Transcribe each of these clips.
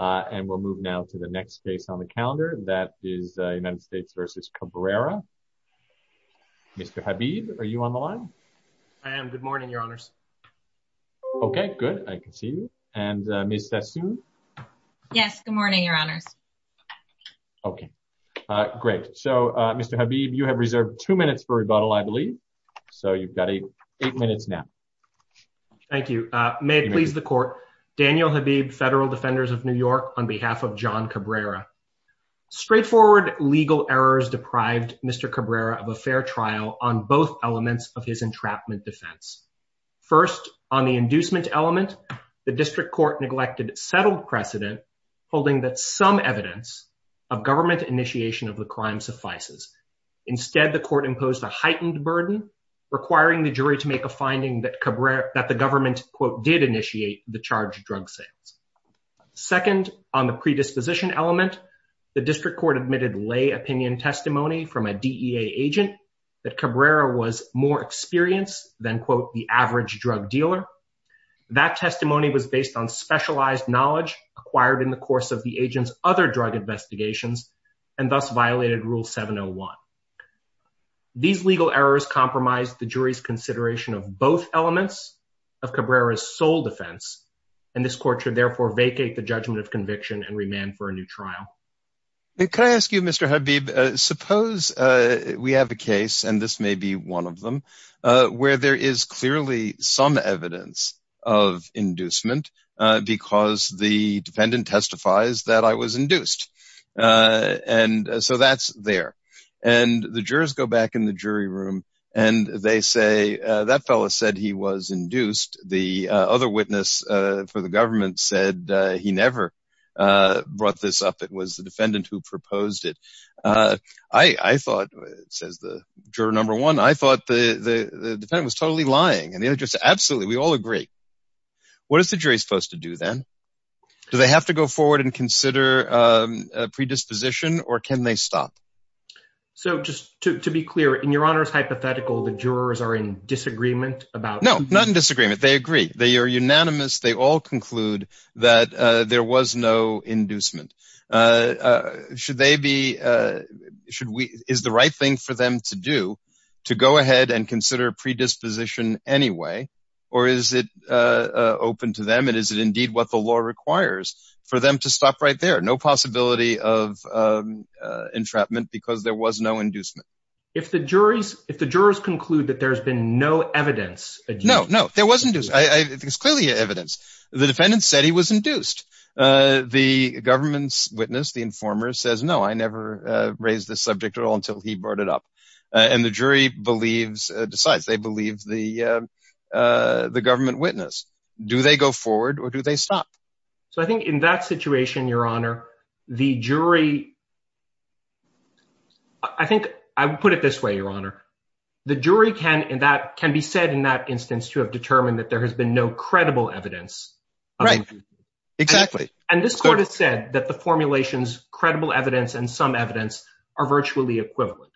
and we'll move now to the next case on the calendar. That is United States v. Cabrera. Mr. Habib, are you on the line? I am. Good morning, Your Honors. Okay, good. I can see you. And Ms. Sassoon? Yes, good morning, Your Honors. Okay, great. So Mr. Habib, you have reserved two minutes for rebuttal, I believe. So you've got eight minutes now. Thank you. May it please the Court, Daniel Habib, Federal Defenders of New York, on behalf of John Cabrera. Straightforward legal errors deprived Mr. Cabrera of a fair trial on both elements of his entrapment defense. First, on the inducement element, the District Court neglected settled precedent, holding that some evidence of government initiation of the crime suffices. Instead, the Court imposed a heightened burden, requiring the jury to make a finding that Cabrera, that the government, quote, initiate the charged drug sales. Second, on the predisposition element, the District Court admitted lay opinion testimony from a DEA agent that Cabrera was more experienced than, quote, the average drug dealer. That testimony was based on specialized knowledge acquired in the course of the agent's other drug investigations, and thus violated Rule 701. These legal errors compromised the jury's consideration of both elements of Cabrera's sole defense, and this Court should therefore vacate the judgment of conviction and remand for a new trial. Can I ask you, Mr. Habib, suppose we have a case, and this may be one of them, where there is clearly some evidence of inducement because the defendant testifies that I was induced. And so that's there. And the jurors go back in the jury room, and they say, that fellow said he was induced. The other witness for the government said he never brought this up. It was the defendant who proposed it. I thought, says the juror number one, I thought the defendant was totally lying. And the other juror said, absolutely, we all agree. What is the jury supposed to do then? Do they have to go forward and consider predisposition, or can they stop? So just to be clear, in Your Honor's hypothetical, the jurors are in disagreement about that? No, not in disagreement. They agree. They are unanimous. They all conclude that there was no inducement. Is the right thing for them to do to go ahead and consider predisposition anyway? Or is it open to them, and is it indeed what the law requires for them to stop right there? No possibility of entrapment because there was no inducement. If the jurors conclude that there's been no evidence? No, no, there was induced. There's clearly evidence. The defendant said he was induced. The government's witness, the informer, says, no, I never raised this subject at all until he brought it up. And the jury decides. They believe the government witness. Do they go forward, or do they stop? So I think in that situation, Your Honor, the jury... I think I would put it this way, Your Honor. The jury can be said in that instance to have determined that there has been no credible evidence. Right, exactly. And this court has said that the formulation's credible evidence and some evidence are virtually equivalent.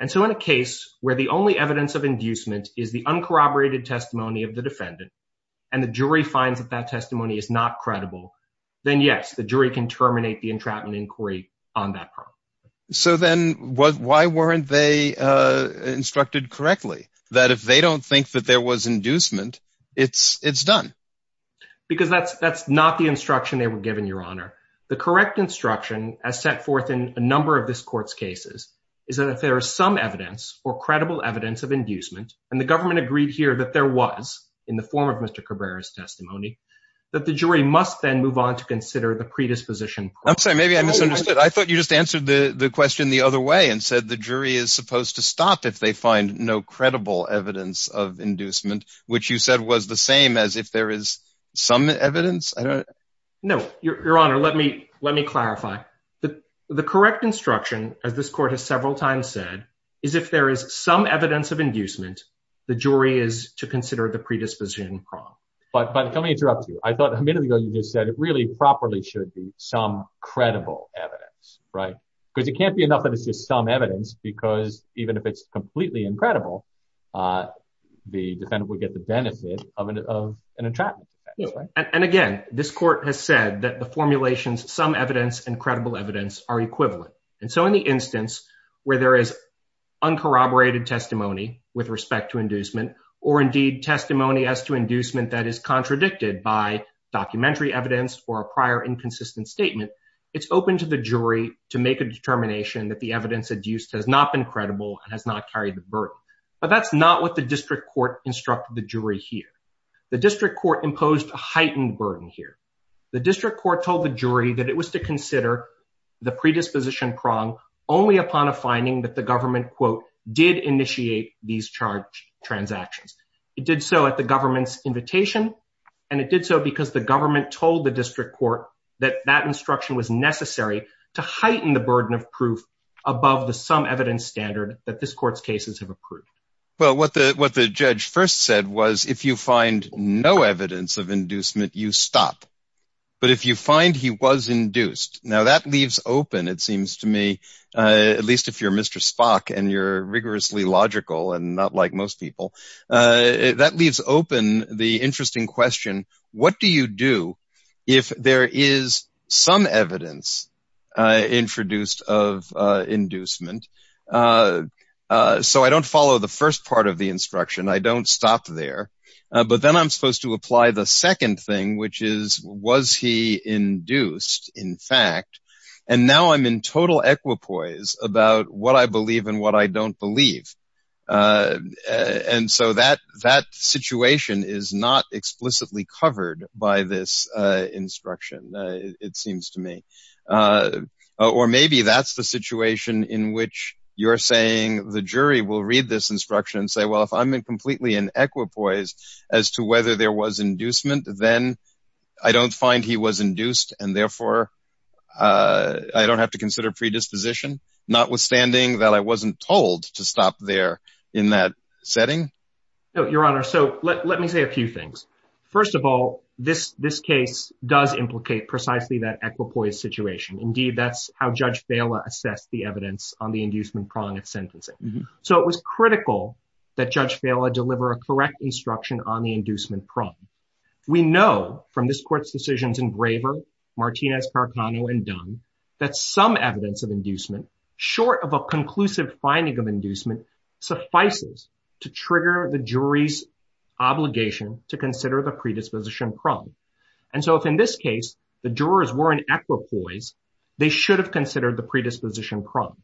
And so in a case where the only evidence of inducement is the uncorroborated testimony of the defendant, and the jury finds that that testimony is not credible, then yes, the jury can terminate the entrapment inquiry on that part. So then why weren't they instructed correctly? That if they don't think that there was inducement, it's done? Because that's not the instruction they were given, Your Honor. The correct instruction, as set forth in a number of this court's cases, is that if there is some evidence or credible evidence of inducement, and the was, in the form of Mr. Cabrera's testimony, that the jury must then move on to consider the predisposition. I'm sorry, maybe I misunderstood. I thought you just answered the question the other way and said the jury is supposed to stop if they find no credible evidence of inducement, which you said was the same as if there is some evidence? No, Your Honor, let me clarify. The correct instruction, as this court has several times said, is if there is some evidence of inducement, the jury is to consider the predisposition wrong. But let me interrupt you. I thought a minute ago you just said it really properly should be some credible evidence, right? Because it can't be enough that it's just some evidence, because even if it's completely incredible, the defendant would get the benefit of an entrapment. And again, this court has said that the formulations, some evidence and credible evidence are equivalent. And so in the instance where there is uncorroborated testimony with respect to inducement, or indeed testimony as to inducement that is contradicted by documentary evidence or a prior inconsistent statement, it's open to the jury to make a determination that the evidence used has not been credible and has not carried the burden. But that's not what the district court instructed the jury here. The district court imposed a heightened burden here. The district court told the jury that it was to consider the predisposition prong only upon a finding that the government, quote, did initiate these charge transactions. It did so at the government's invitation. And it did so because the government told the district court that that instruction was necessary to heighten the burden of proof above the some evidence standard that this court's cases have approved. Well, what the what the judge first said was, if you find no evidence of inducement, you stop. But if you find he was induced now, that leaves open, it seems to me, at least if you're Mr. Spock and you're rigorously logical and not like most people, that leaves open the interesting question. What do you do if there is some evidence introduced of inducement? So I don't follow the first part of the instruction. I don't stop there. But then I'm supposed to apply the second thing, which is was he induced, in fact, and now I'm in total equipoise about what I believe and what I don't believe. And so that that situation is not explicitly covered by this instruction, it seems to me. Or maybe that's the situation in which you're saying the jury will read this instruction and say, well, if I'm in completely in equipoise as to whether there was inducement, then I don't find he was induced and therefore I don't have to consider predisposition, notwithstanding that I wasn't told to stop there in that setting. Your Honor, so let me say a few things. First of all, this this case does implicate precisely that equipoise situation. Indeed, that's how Judge Vaila assessed the evidence on the inducement prong of sentencing. So it was critical that Judge Vaila deliver a correct instruction on the inducement prong. We know from this court's decisions in Graver, Martinez, Carcano, and Dunn that some evidence of inducement, short of a conclusive finding of inducement, suffices to trigger the jury's obligation to consider the predisposition prong. And so if in this case the jurors were in equipoise, they should have considered the predisposition prong.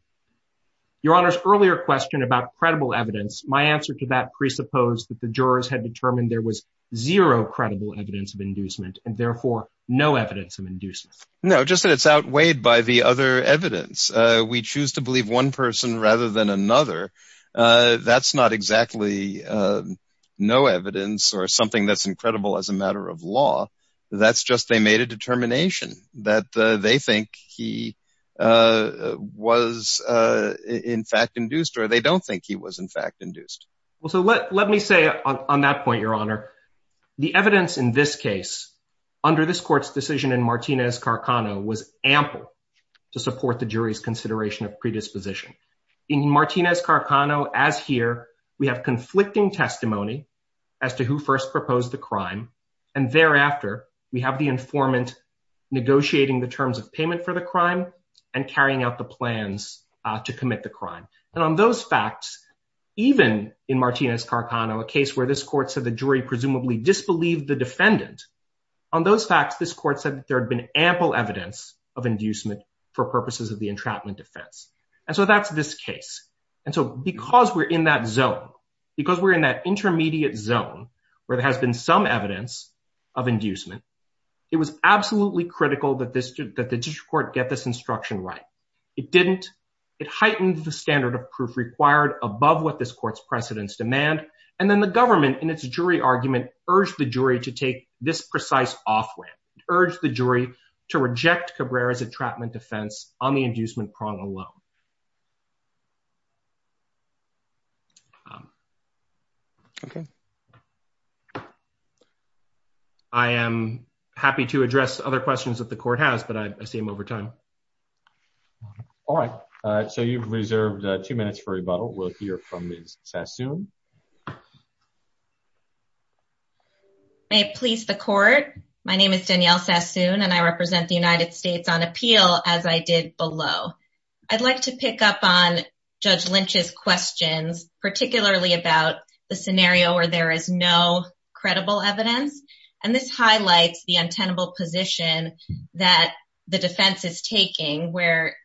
Your Honor's earlier question about credible evidence, my answer to that presupposed that the jurors had determined there was zero credible evidence of inducement and therefore no evidence of inducement. No, just that it's outweighed by the other evidence. We choose to believe one person rather than another. That's not exactly no evidence or something that's incredible as a matter of law. That's just they made a determination that they think he was in fact induced, or they don't think he was in fact induced. Well, so let me say on that point, Your Honor, the evidence in this case under this court's decision in Martinez-Carcano was ample to support the jury's consideration of predisposition. In Martinez-Carcano, as here, we have conflicting testimony as to who first proposed the crime. And thereafter, we have the informant negotiating the terms of payment for the crime and carrying out the plans to commit the crime. And on those facts, even in Martinez-Carcano, a case where this court said the jury presumably disbelieved the defendant, on those facts, this court said that there had been ample evidence of inducement for purposes of the entrapment defense. And so that's this case. And so because we're in that zone, because we're in that intermediate zone, where there has been some evidence of inducement, it was absolutely critical that the district court get this instruction right. It didn't. It heightened the standard of proof required above what this court's precedents demand. And then the government, in its jury argument, urged the jury to take this precise offhand. It urged the jury to reject Cabrera's entrapment defense on the inducement prong alone. Okay. I am happy to address other questions that the court has, but I see them over time. All right. So you've reserved two minutes for rebuttal. We'll hear from Ms. Sassoon. May it please the court. My name is Danielle Sassoon, and I represent the United States on about the scenario where there is no credible evidence. And this highlights the untenable position that the defense is taking, where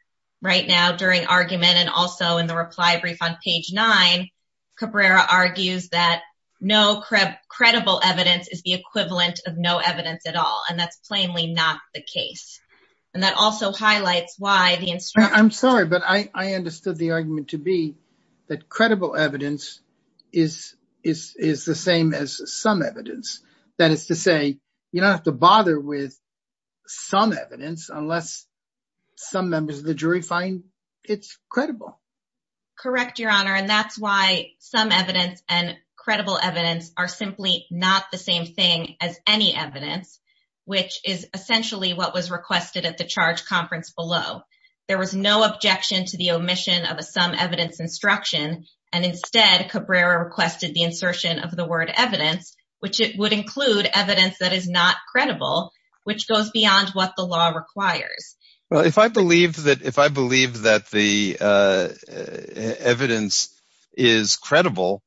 right now during argument and also in the reply brief on page nine, Cabrera argues that no credible evidence is the equivalent of no evidence at all. And that's plainly not the case. And that also highlights why the instruction... is the same as some evidence. That is to say, you don't have to bother with some evidence unless some members of the jury find it's credible. Correct, Your Honor. And that's why some evidence and credible evidence are simply not the same thing as any evidence, which is essentially what was requested at the charge conference below. There was no objection to the omission of a some evidence instruction. And instead, Cabrera requested the insertion of the word evidence, which would include evidence that is not credible, which goes beyond what the law requires. Well, if I believe that the evidence is credible,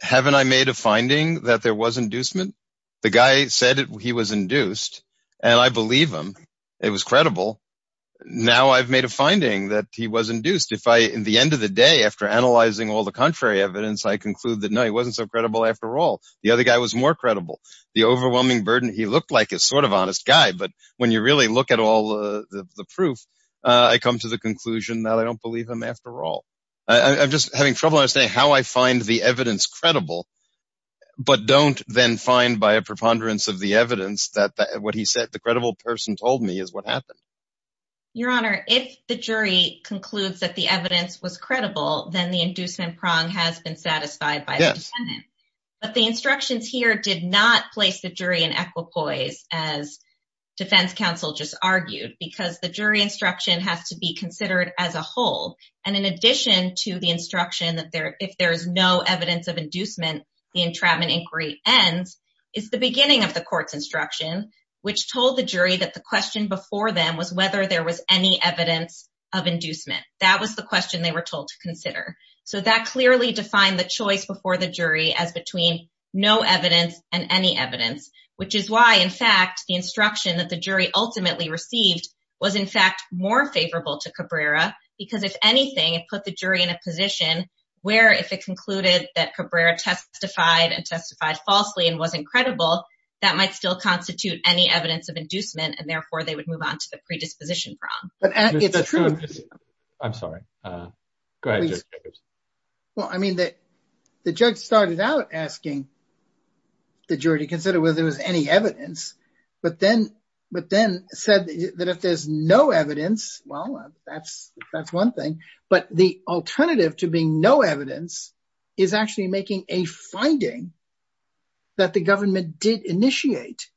haven't I made a finding that there was inducement? The guy said he was induced, and I believe him. It was credible. Now I've made a finding that he was induced. In the end of the day, after analyzing all the contrary evidence, I conclude that no, he wasn't so credible after all. The other guy was more credible. The overwhelming burden he looked like is sort of honest guy. But when you really look at all the proof, I come to the conclusion that I don't believe him after all. I'm just having trouble understanding how I find the evidence credible, but don't then find by a preponderance of the evidence that what the credible person told me is what happened. Your Honor, if the jury concludes that the evidence was credible, then the inducement prong has been satisfied by the defendant. But the instructions here did not place the jury in equipoise, as defense counsel just argued, because the jury instruction has to be considered as a whole. And in addition to the instruction that if there is no evidence of inducement, the entrapment inquiry ends, is the beginning of the which told the jury that the question before them was whether there was any evidence of inducement. That was the question they were told to consider. So that clearly defined the choice before the jury as between no evidence and any evidence, which is why in fact, the instruction that the jury ultimately received was in fact more favorable to Cabrera. Because if anything, it put the jury in a position where if it concluded that Cabrera testified and constitute any evidence of inducement, and therefore they would move on to the predisposition prong. I'm sorry. Go ahead. Well, I mean, the judge started out asking the jury to consider whether there was any evidence, but then said that if there's no evidence, well, that's one thing. But the alternative to being no evidence is actually making a finding that the government did initiate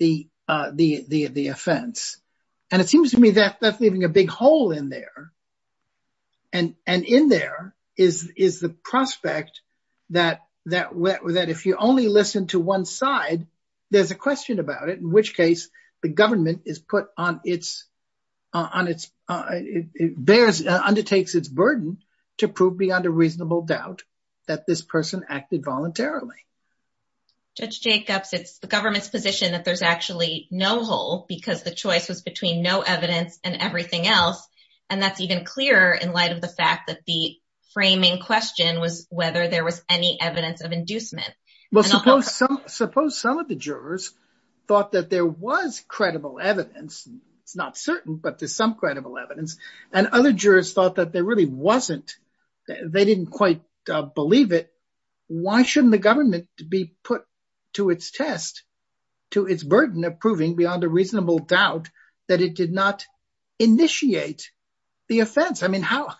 the offense. And it seems to me that that's leaving a big hole in there. And in there is the prospect that if you only listen to one side, there's a question about it, in which case the government undertakes its burden to prove beyond a reasonable doubt that this person acted voluntarily. Judge Jacobs, it's the government's position that there's actually no hole because the choice was between no evidence and everything else. And that's even clearer in light of the fact that the framing question was whether there was any evidence of inducement. Well, suppose some of the jurors thought that there was credible evidence. It's not certain, but there's some credible evidence. And other jurors thought that there was some credible evidence, but they didn't quite believe it. Why shouldn't the government be put to its test, to its burden of proving beyond a reasonable doubt that it did not initiate the offense? I mean, how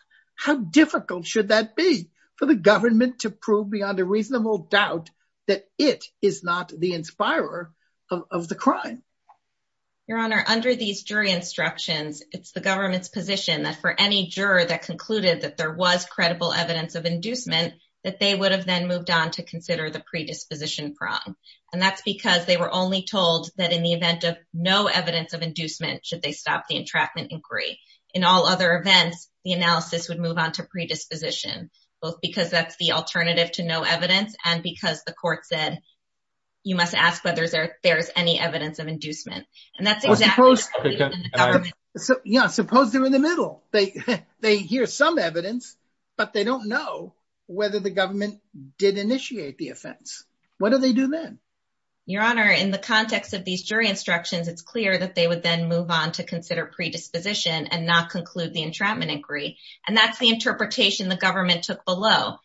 difficult should that be for the government to prove beyond a reasonable doubt that it is not the inspirer of the crime? Your Honor, under these jury instructions, it's the government's position that for any juror that concluded that there was credible evidence of inducement, that they would have then moved on to consider the predisposition prong. And that's because they were only told that in the event of no evidence of inducement, should they stop the entrapment inquiry. In all other events, the analysis would move on to predisposition, both because that's the alternative to no evidence and because the court said, you must ask whether there's any evidence of inducement. And that's exactly what happened. Suppose they're in the middle. They hear some evidence, but they don't know whether the government did initiate the offense. What do they do then? Your Honor, in the context of these jury instructions, it's clear that they would then move on to consider predisposition and not conclude the entrapment inquiry. And that's the interpretation the government took below.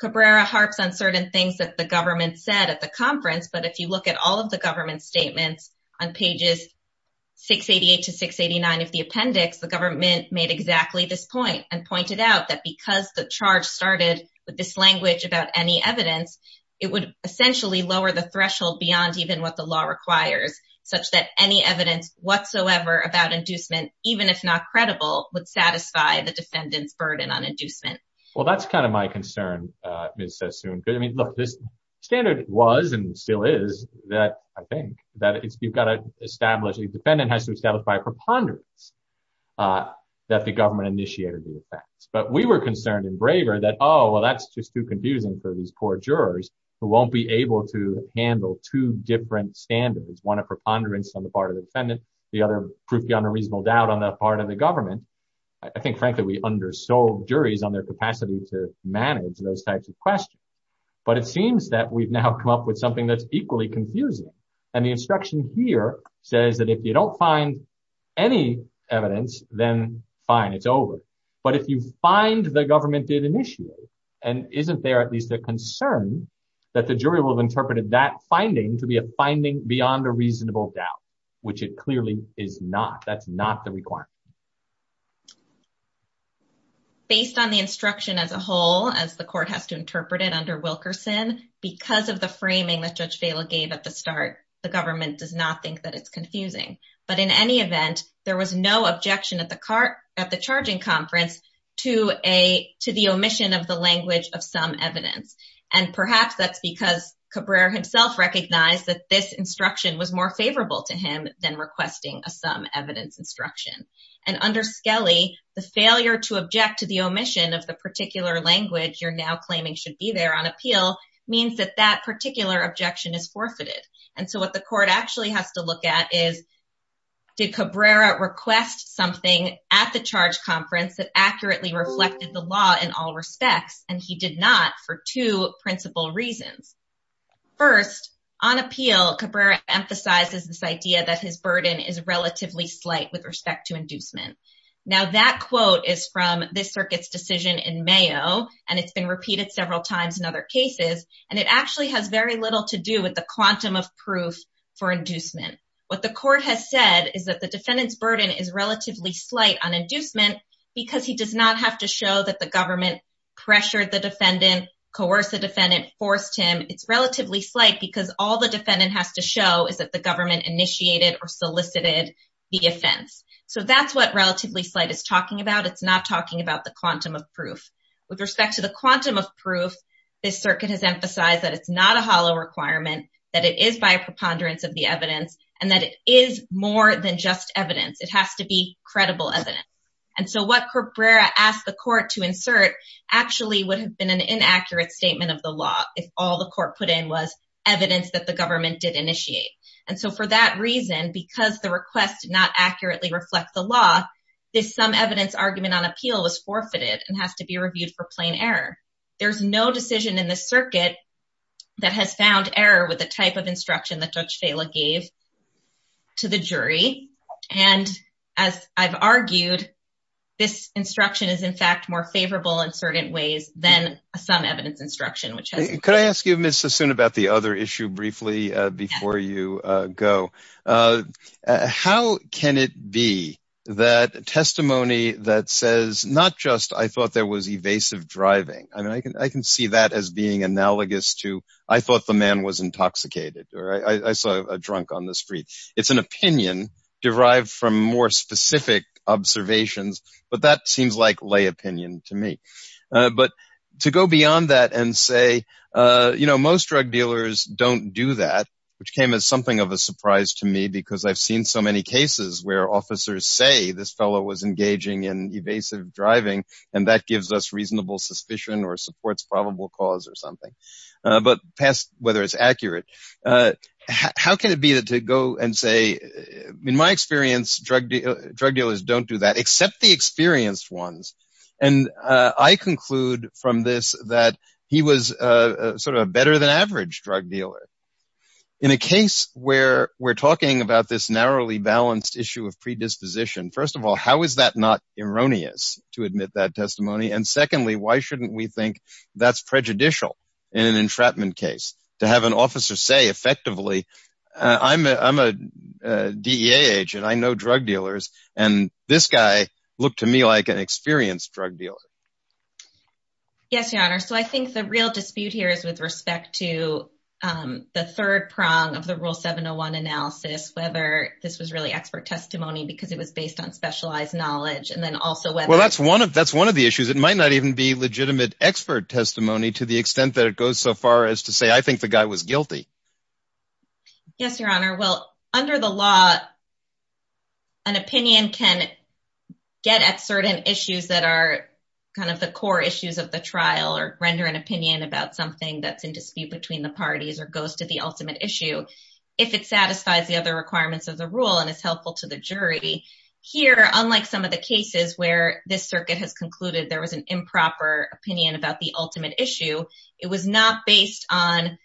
Cabrera harps on certain things that the government said at the conference. But if you look at all of the government's statements on pages 688 to 689 of the appendix, the government made exactly this point and pointed out that because the charge started with this language about any evidence, it would essentially lower the threshold beyond even what the law requires, such that any evidence whatsoever about inducement, even if not credible, would satisfy the defendant's burden on inducement. Well, that's kind of my concern, Ms. Sassoon. I mean, look, this standard was and still is that, I think, that you've got to establish, the defendant has to establish a preponderance that the government initiated the offense. But we were concerned in Braver that, oh, well, that's just too confusing for these poor jurors who won't be able to handle two different standards, one a preponderance on the part of the defendant, the other proof beyond a reasonable doubt on the part of the government. I think, frankly, we undersold juries on their capacity to manage those types of questions. But it seems that we've now come up with something that's equally confusing. And the instruction here says that if you don't find any evidence, then fine, it's over. But if you find the government did initiate, and isn't there at least a concern that the jury will have interpreted that finding to be a finding beyond a reasonable doubt, which it clearly is not, that's not the requirement. Based on the instruction as a whole, as the court has to interpret it under Wilkerson, because of the framing that Judge Vaila gave at the start, the government does not think that it's confusing. But in any event, there was no objection at the charging conference to the omission of the language of some evidence. And perhaps that's because Cabrera himself recognized that this instruction was more favorable to him than requesting a some evidence instruction. And under Skelly, the failure to object to the omission of the particular language you're now claiming should be there on appeal means that that particular objection is forfeited. And so what the court actually has to look at is, did Cabrera request something at the charge conference that accurately reflected the law in all respects, and he did not for two principal reasons. First, on appeal, Cabrera emphasizes this idea that his burden is relatively slight with respect to inducement. Now, that quote is from this circuit's decision in Mayo, and it's been repeated several times in other cases, and it actually has very little to do with the quantum of proof for inducement. What the court has said is that the defendant's burden is relatively slight on inducement because he does not have to show that the government pressured the defendant, coerced the defendant, forced him. It's relatively slight because all the defendant has to show is the government initiated or solicited the offense. So that's what relatively slight is talking about. It's not talking about the quantum of proof. With respect to the quantum of proof, this circuit has emphasized that it's not a hollow requirement, that it is by a preponderance of the evidence, and that it is more than just evidence. It has to be credible evidence. And so what Cabrera asked the court to insert actually would have been an inaccurate statement of the law if all the court put in was evidence that the government did initiate. And so for that reason, because the request did not accurately reflect the law, this sum evidence argument on appeal was forfeited and has to be reviewed for plain error. There's no decision in this circuit that has found error with the type of instruction that Judge Vela gave to the jury. And as I've argued, this instruction is in fact more favorable in certain ways than a sum evidence instruction, which has... Let's assume about the other issue briefly before you go. How can it be that testimony that says not just, I thought there was evasive driving. I mean, I can see that as being analogous to, I thought the man was intoxicated or I saw a drunk on the street. It's an opinion derived from more specific observations, but that seems like lay opinion to me. But to go beyond that and say, most drug dealers don't do that, which came as something of a surprise to me because I've seen so many cases where officers say this fellow was engaging in evasive driving and that gives us reasonable suspicion or supports probable cause or something. But whether it's accurate, how can it be that to go and say, in my experience, drug dealers don't do that except the experienced ones. And I conclude from this that he was a better than average drug dealer. In a case where we're talking about this narrowly balanced issue of predisposition, first of all, how is that not erroneous to admit that testimony? And secondly, why shouldn't we think that's prejudicial in an entrapment case to have an officer say effectively, I'm a DEA agent, I know drug dealers, and this guy looked to me like an experienced drug dealer? Yes, your honor. So I think the real dispute here is with respect to the third prong of the rule 701 analysis, whether this was really expert testimony because it was based on specialized knowledge and then also whether- Well, that's one of the issues. It might not even be legitimate expert testimony to the extent that it goes so far as to say, I think the guy was guilty. Yes, your honor. Well, under the law, an opinion can get at certain issues that are kind of the core issues of the trial or render an opinion about something that's in dispute between the parties or goes to the ultimate issue if it satisfies the other requirements of the rule and is helpful to the jury. Here, unlike some of the cases where this circuit has concluded there was an improper opinion about the ultimate issue, it was not based on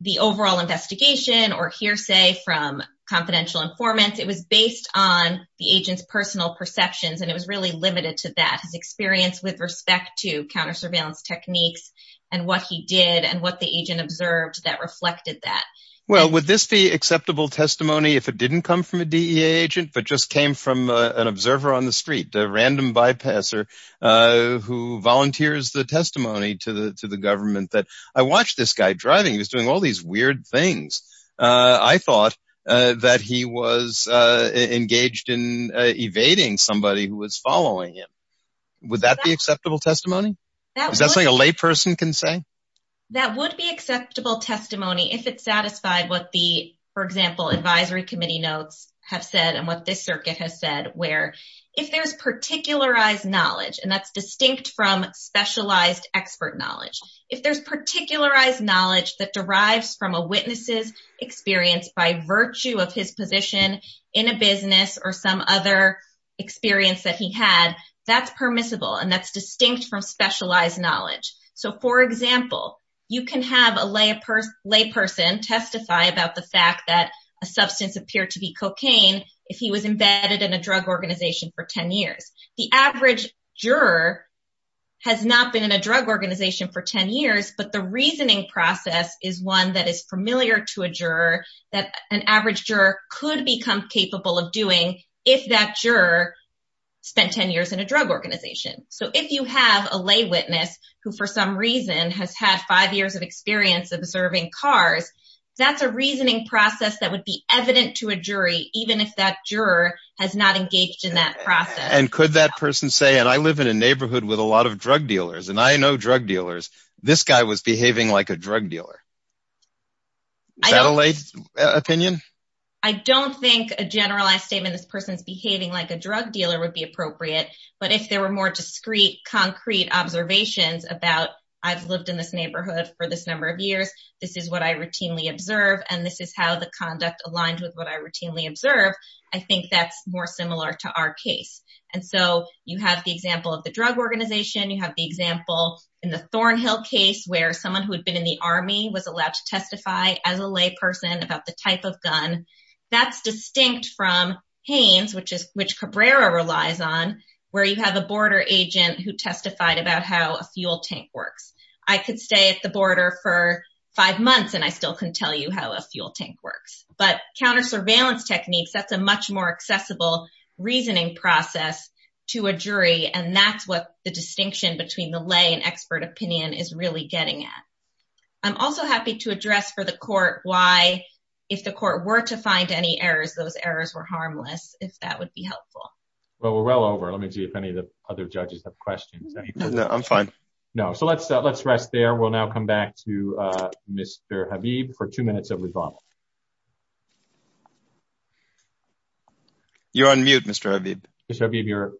the overall investigation or hearsay from confidential informants. It was based on the agent's personal perceptions and it was really limited to that, his experience with respect to counter-surveillance techniques and what he did and what the agent observed that reflected that. Well, would this be acceptable testimony if it didn't come from a DEA agent but just came from an observer on the street, a random bypasser who volunteers the testimony to the government that, I watched this guy driving. He was doing all these weird things. I thought that he was engaged in evading somebody who was following him. Would that be acceptable testimony? Is that something a lay person can say? That would be acceptable testimony if it satisfied what the, for example, advisory committee notes have said and what this circuit has said where if there's particularized knowledge, and that's distinct from specialized expert knowledge. If there's particularized knowledge that derives from a witness's experience by virtue of his position in a business or some other experience that he had, that's permissible and that's distinct from specialized knowledge. So, for example, you can have a lay person testify about the fact that a substance appeared to be if he was embedded in a drug organization for 10 years. The average juror has not been in a drug organization for 10 years, but the reasoning process is one that is familiar to a juror that an average juror could become capable of doing if that juror spent 10 years in a drug organization. So, if you have a lay witness who, for some reason, has had five years of experience observing cars, that's a reasoning process that would be evident to a jury even if that juror has not engaged in that process. And could that person say, and I live in a neighborhood with a lot of drug dealers and I know drug dealers, this guy was behaving like a drug dealer. Is that a lay opinion? I don't think a generalized statement, this person's behaving like a drug dealer would be appropriate, but if there were more discrete, concrete observations about I've lived in this this is what I routinely observe and this is how the conduct aligned with what I routinely observe, I think that's more similar to our case. And so, you have the example of the drug organization, you have the example in the Thornhill case where someone who had been in the army was allowed to testify as a lay person about the type of gun. That's distinct from Haynes, which Cabrera relies on, where you have a border agent who testified about how a fuel tank works. I could stay at the five months and I still couldn't tell you how a fuel tank works. But counter surveillance techniques, that's a much more accessible reasoning process to a jury and that's what the distinction between the lay and expert opinion is really getting at. I'm also happy to address for the court why if the court were to find any errors, those errors were harmless, if that would be helpful. Well, we're well over. Let me see if any of the other judges have any questions. No, I'm fine. No. So, let's rest there. We'll now come back to Mr. Habib for two minutes of rebuttal. You're on mute, Mr. Habib. Mr. Habib, you're...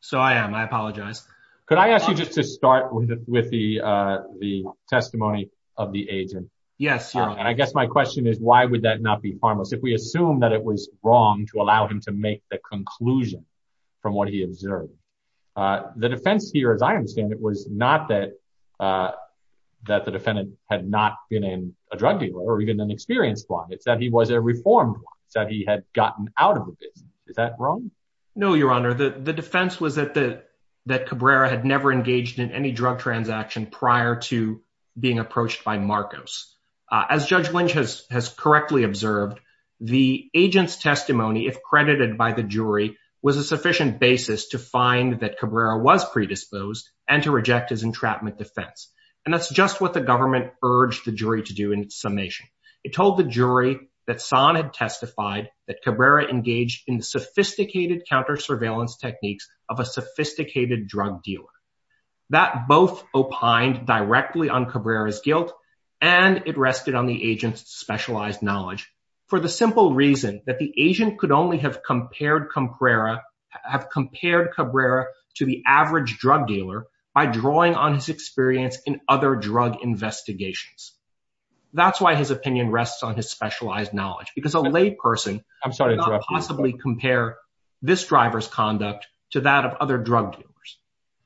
So, I am. I apologize. Could I ask you just to start with the testimony of the agent? Yes, Your Honor. And I guess my question is, why would that not be harmless? If we assume that it was wrong to allow him to make a conclusion from what he observed, the defense here, as I understand it, was not that the defendant had not been in a drug deal or even an experienced one. It's that he was a reformed one, that he had gotten out of the business. Is that wrong? No, Your Honor. The defense was that Cabrera had never engaged in any drug transaction prior to being approached by Marcos. As Judge Lynch has a sufficient basis to find that Cabrera was predisposed and to reject his entrapment defense. And that's just what the government urged the jury to do in its summation. It told the jury that San had testified that Cabrera engaged in sophisticated counter-surveillance techniques of a sophisticated drug dealer. That both opined directly on Cabrera's guilt and it rested on the agent could only have compared Cabrera to the average drug dealer by drawing on his experience in other drug investigations. That's why his opinion rests on his specialized knowledge, because a lay person could not possibly compare this driver's conduct to that of other drug dealers.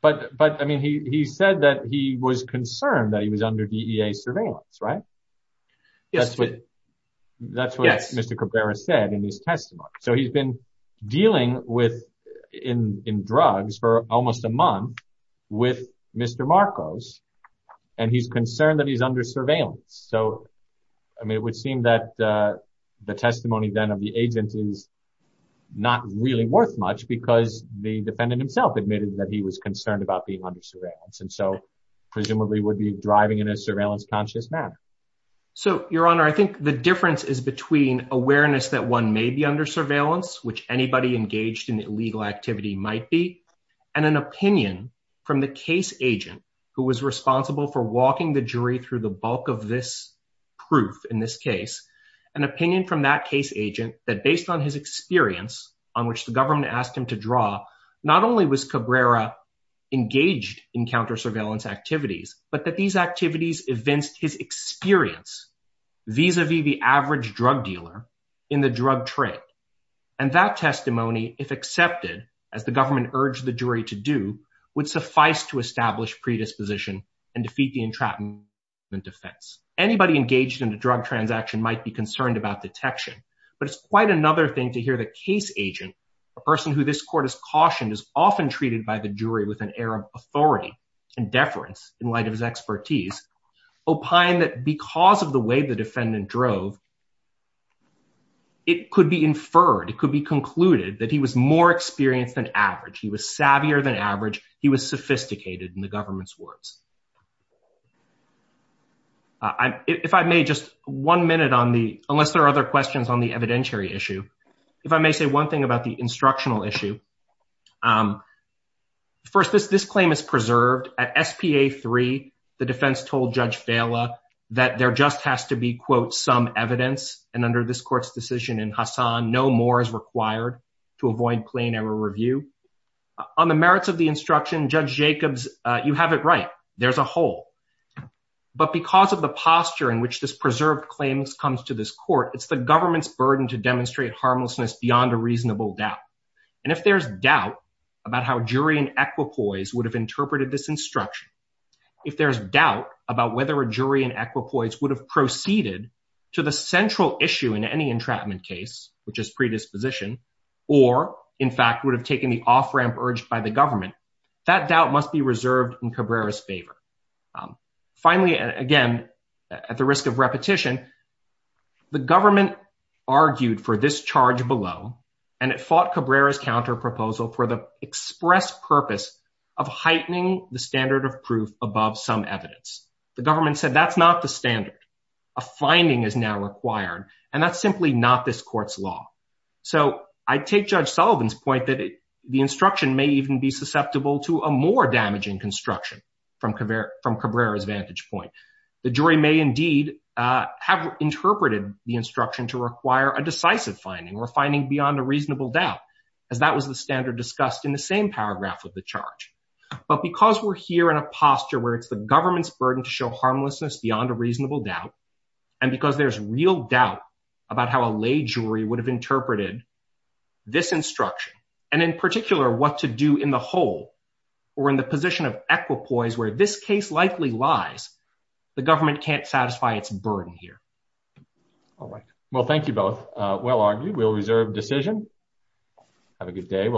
But I mean, he said that he was concerned that he was under DEA surveillance, right? Yes. That's what Mr. Cabrera said in his testimony. So he's been dealing with in drugs for almost a month with Mr. Marcos, and he's concerned that he's under surveillance. So, I mean, it would seem that the testimony then of the agent is not really worth much because the defendant himself admitted that he was concerned about being under surveillance. And so Your Honor, I think the difference is between awareness that one may be under surveillance, which anybody engaged in illegal activity might be, and an opinion from the case agent who was responsible for walking the jury through the bulk of this proof in this case, an opinion from that case agent that based on his experience on which the government asked him to draw, not only was vis-a-vis the average drug dealer in the drug trade. And that testimony, if accepted, as the government urged the jury to do, would suffice to establish predisposition and defeat the entrapment defense. Anybody engaged in a drug transaction might be concerned about detection, but it's quite another thing to hear the case agent, a person who this court has cautioned is often treated by the jury with an air of authority and deference in light of his expertise, opine that because of the way the defendant drove, it could be inferred, it could be concluded that he was more experienced than average. He was savvier than average. He was sophisticated in the government's words. If I may, just one minute on the, unless there are other questions on the evidentiary issue, if I may say one thing about the instructional issue. First, this claim is preserved. At SPA 3, the defense told Judge Vela that there just has to be, quote, some evidence. And under this court's decision in Hassan, no more is required to avoid plain error review. On the merits of the instruction, Judge Jacobs, you have it right. There's a hole. But because of the posture in which this preserved claim comes to this court, it's the government's burden to demonstrate harmlessness beyond a reasonable doubt. And if there's doubt about how jury and equipoise would have interpreted this instruction, if there's doubt about whether a jury and equipoise would have proceeded to the central issue in any entrapment case, which is predisposition, or in fact would have taken the off-ramp urged by the government, that doubt must be reserved in Cabrera's favor. Finally, again, at the risk of repetition, the government argued for this charge below, and it fought Cabrera's counterproposal for the express purpose of heightening the standard of proof above some evidence. The government said that's not the standard. A finding is now required, and that's simply not this court's law. So I take Judge Sullivan's point that the instruction may even be susceptible to a more damaging construction from Cabrera's vantage point. The jury may indeed have interpreted the instruction to require a decisive finding, or finding beyond a reasonable doubt, as that was the standard discussed in the same paragraph of the charge. But because we're here in a posture where it's the government's burden to show harmlessness beyond a reasonable doubt, and because there's real doubt about how a lay jury would have interpreted this instruction, and in particular what to do in the whole, or in the position of equipoise where this case likely lies, the government can't satisfy its burden here. All right. Well, thank you both. Well argued. We'll reserve decision. Have a good day.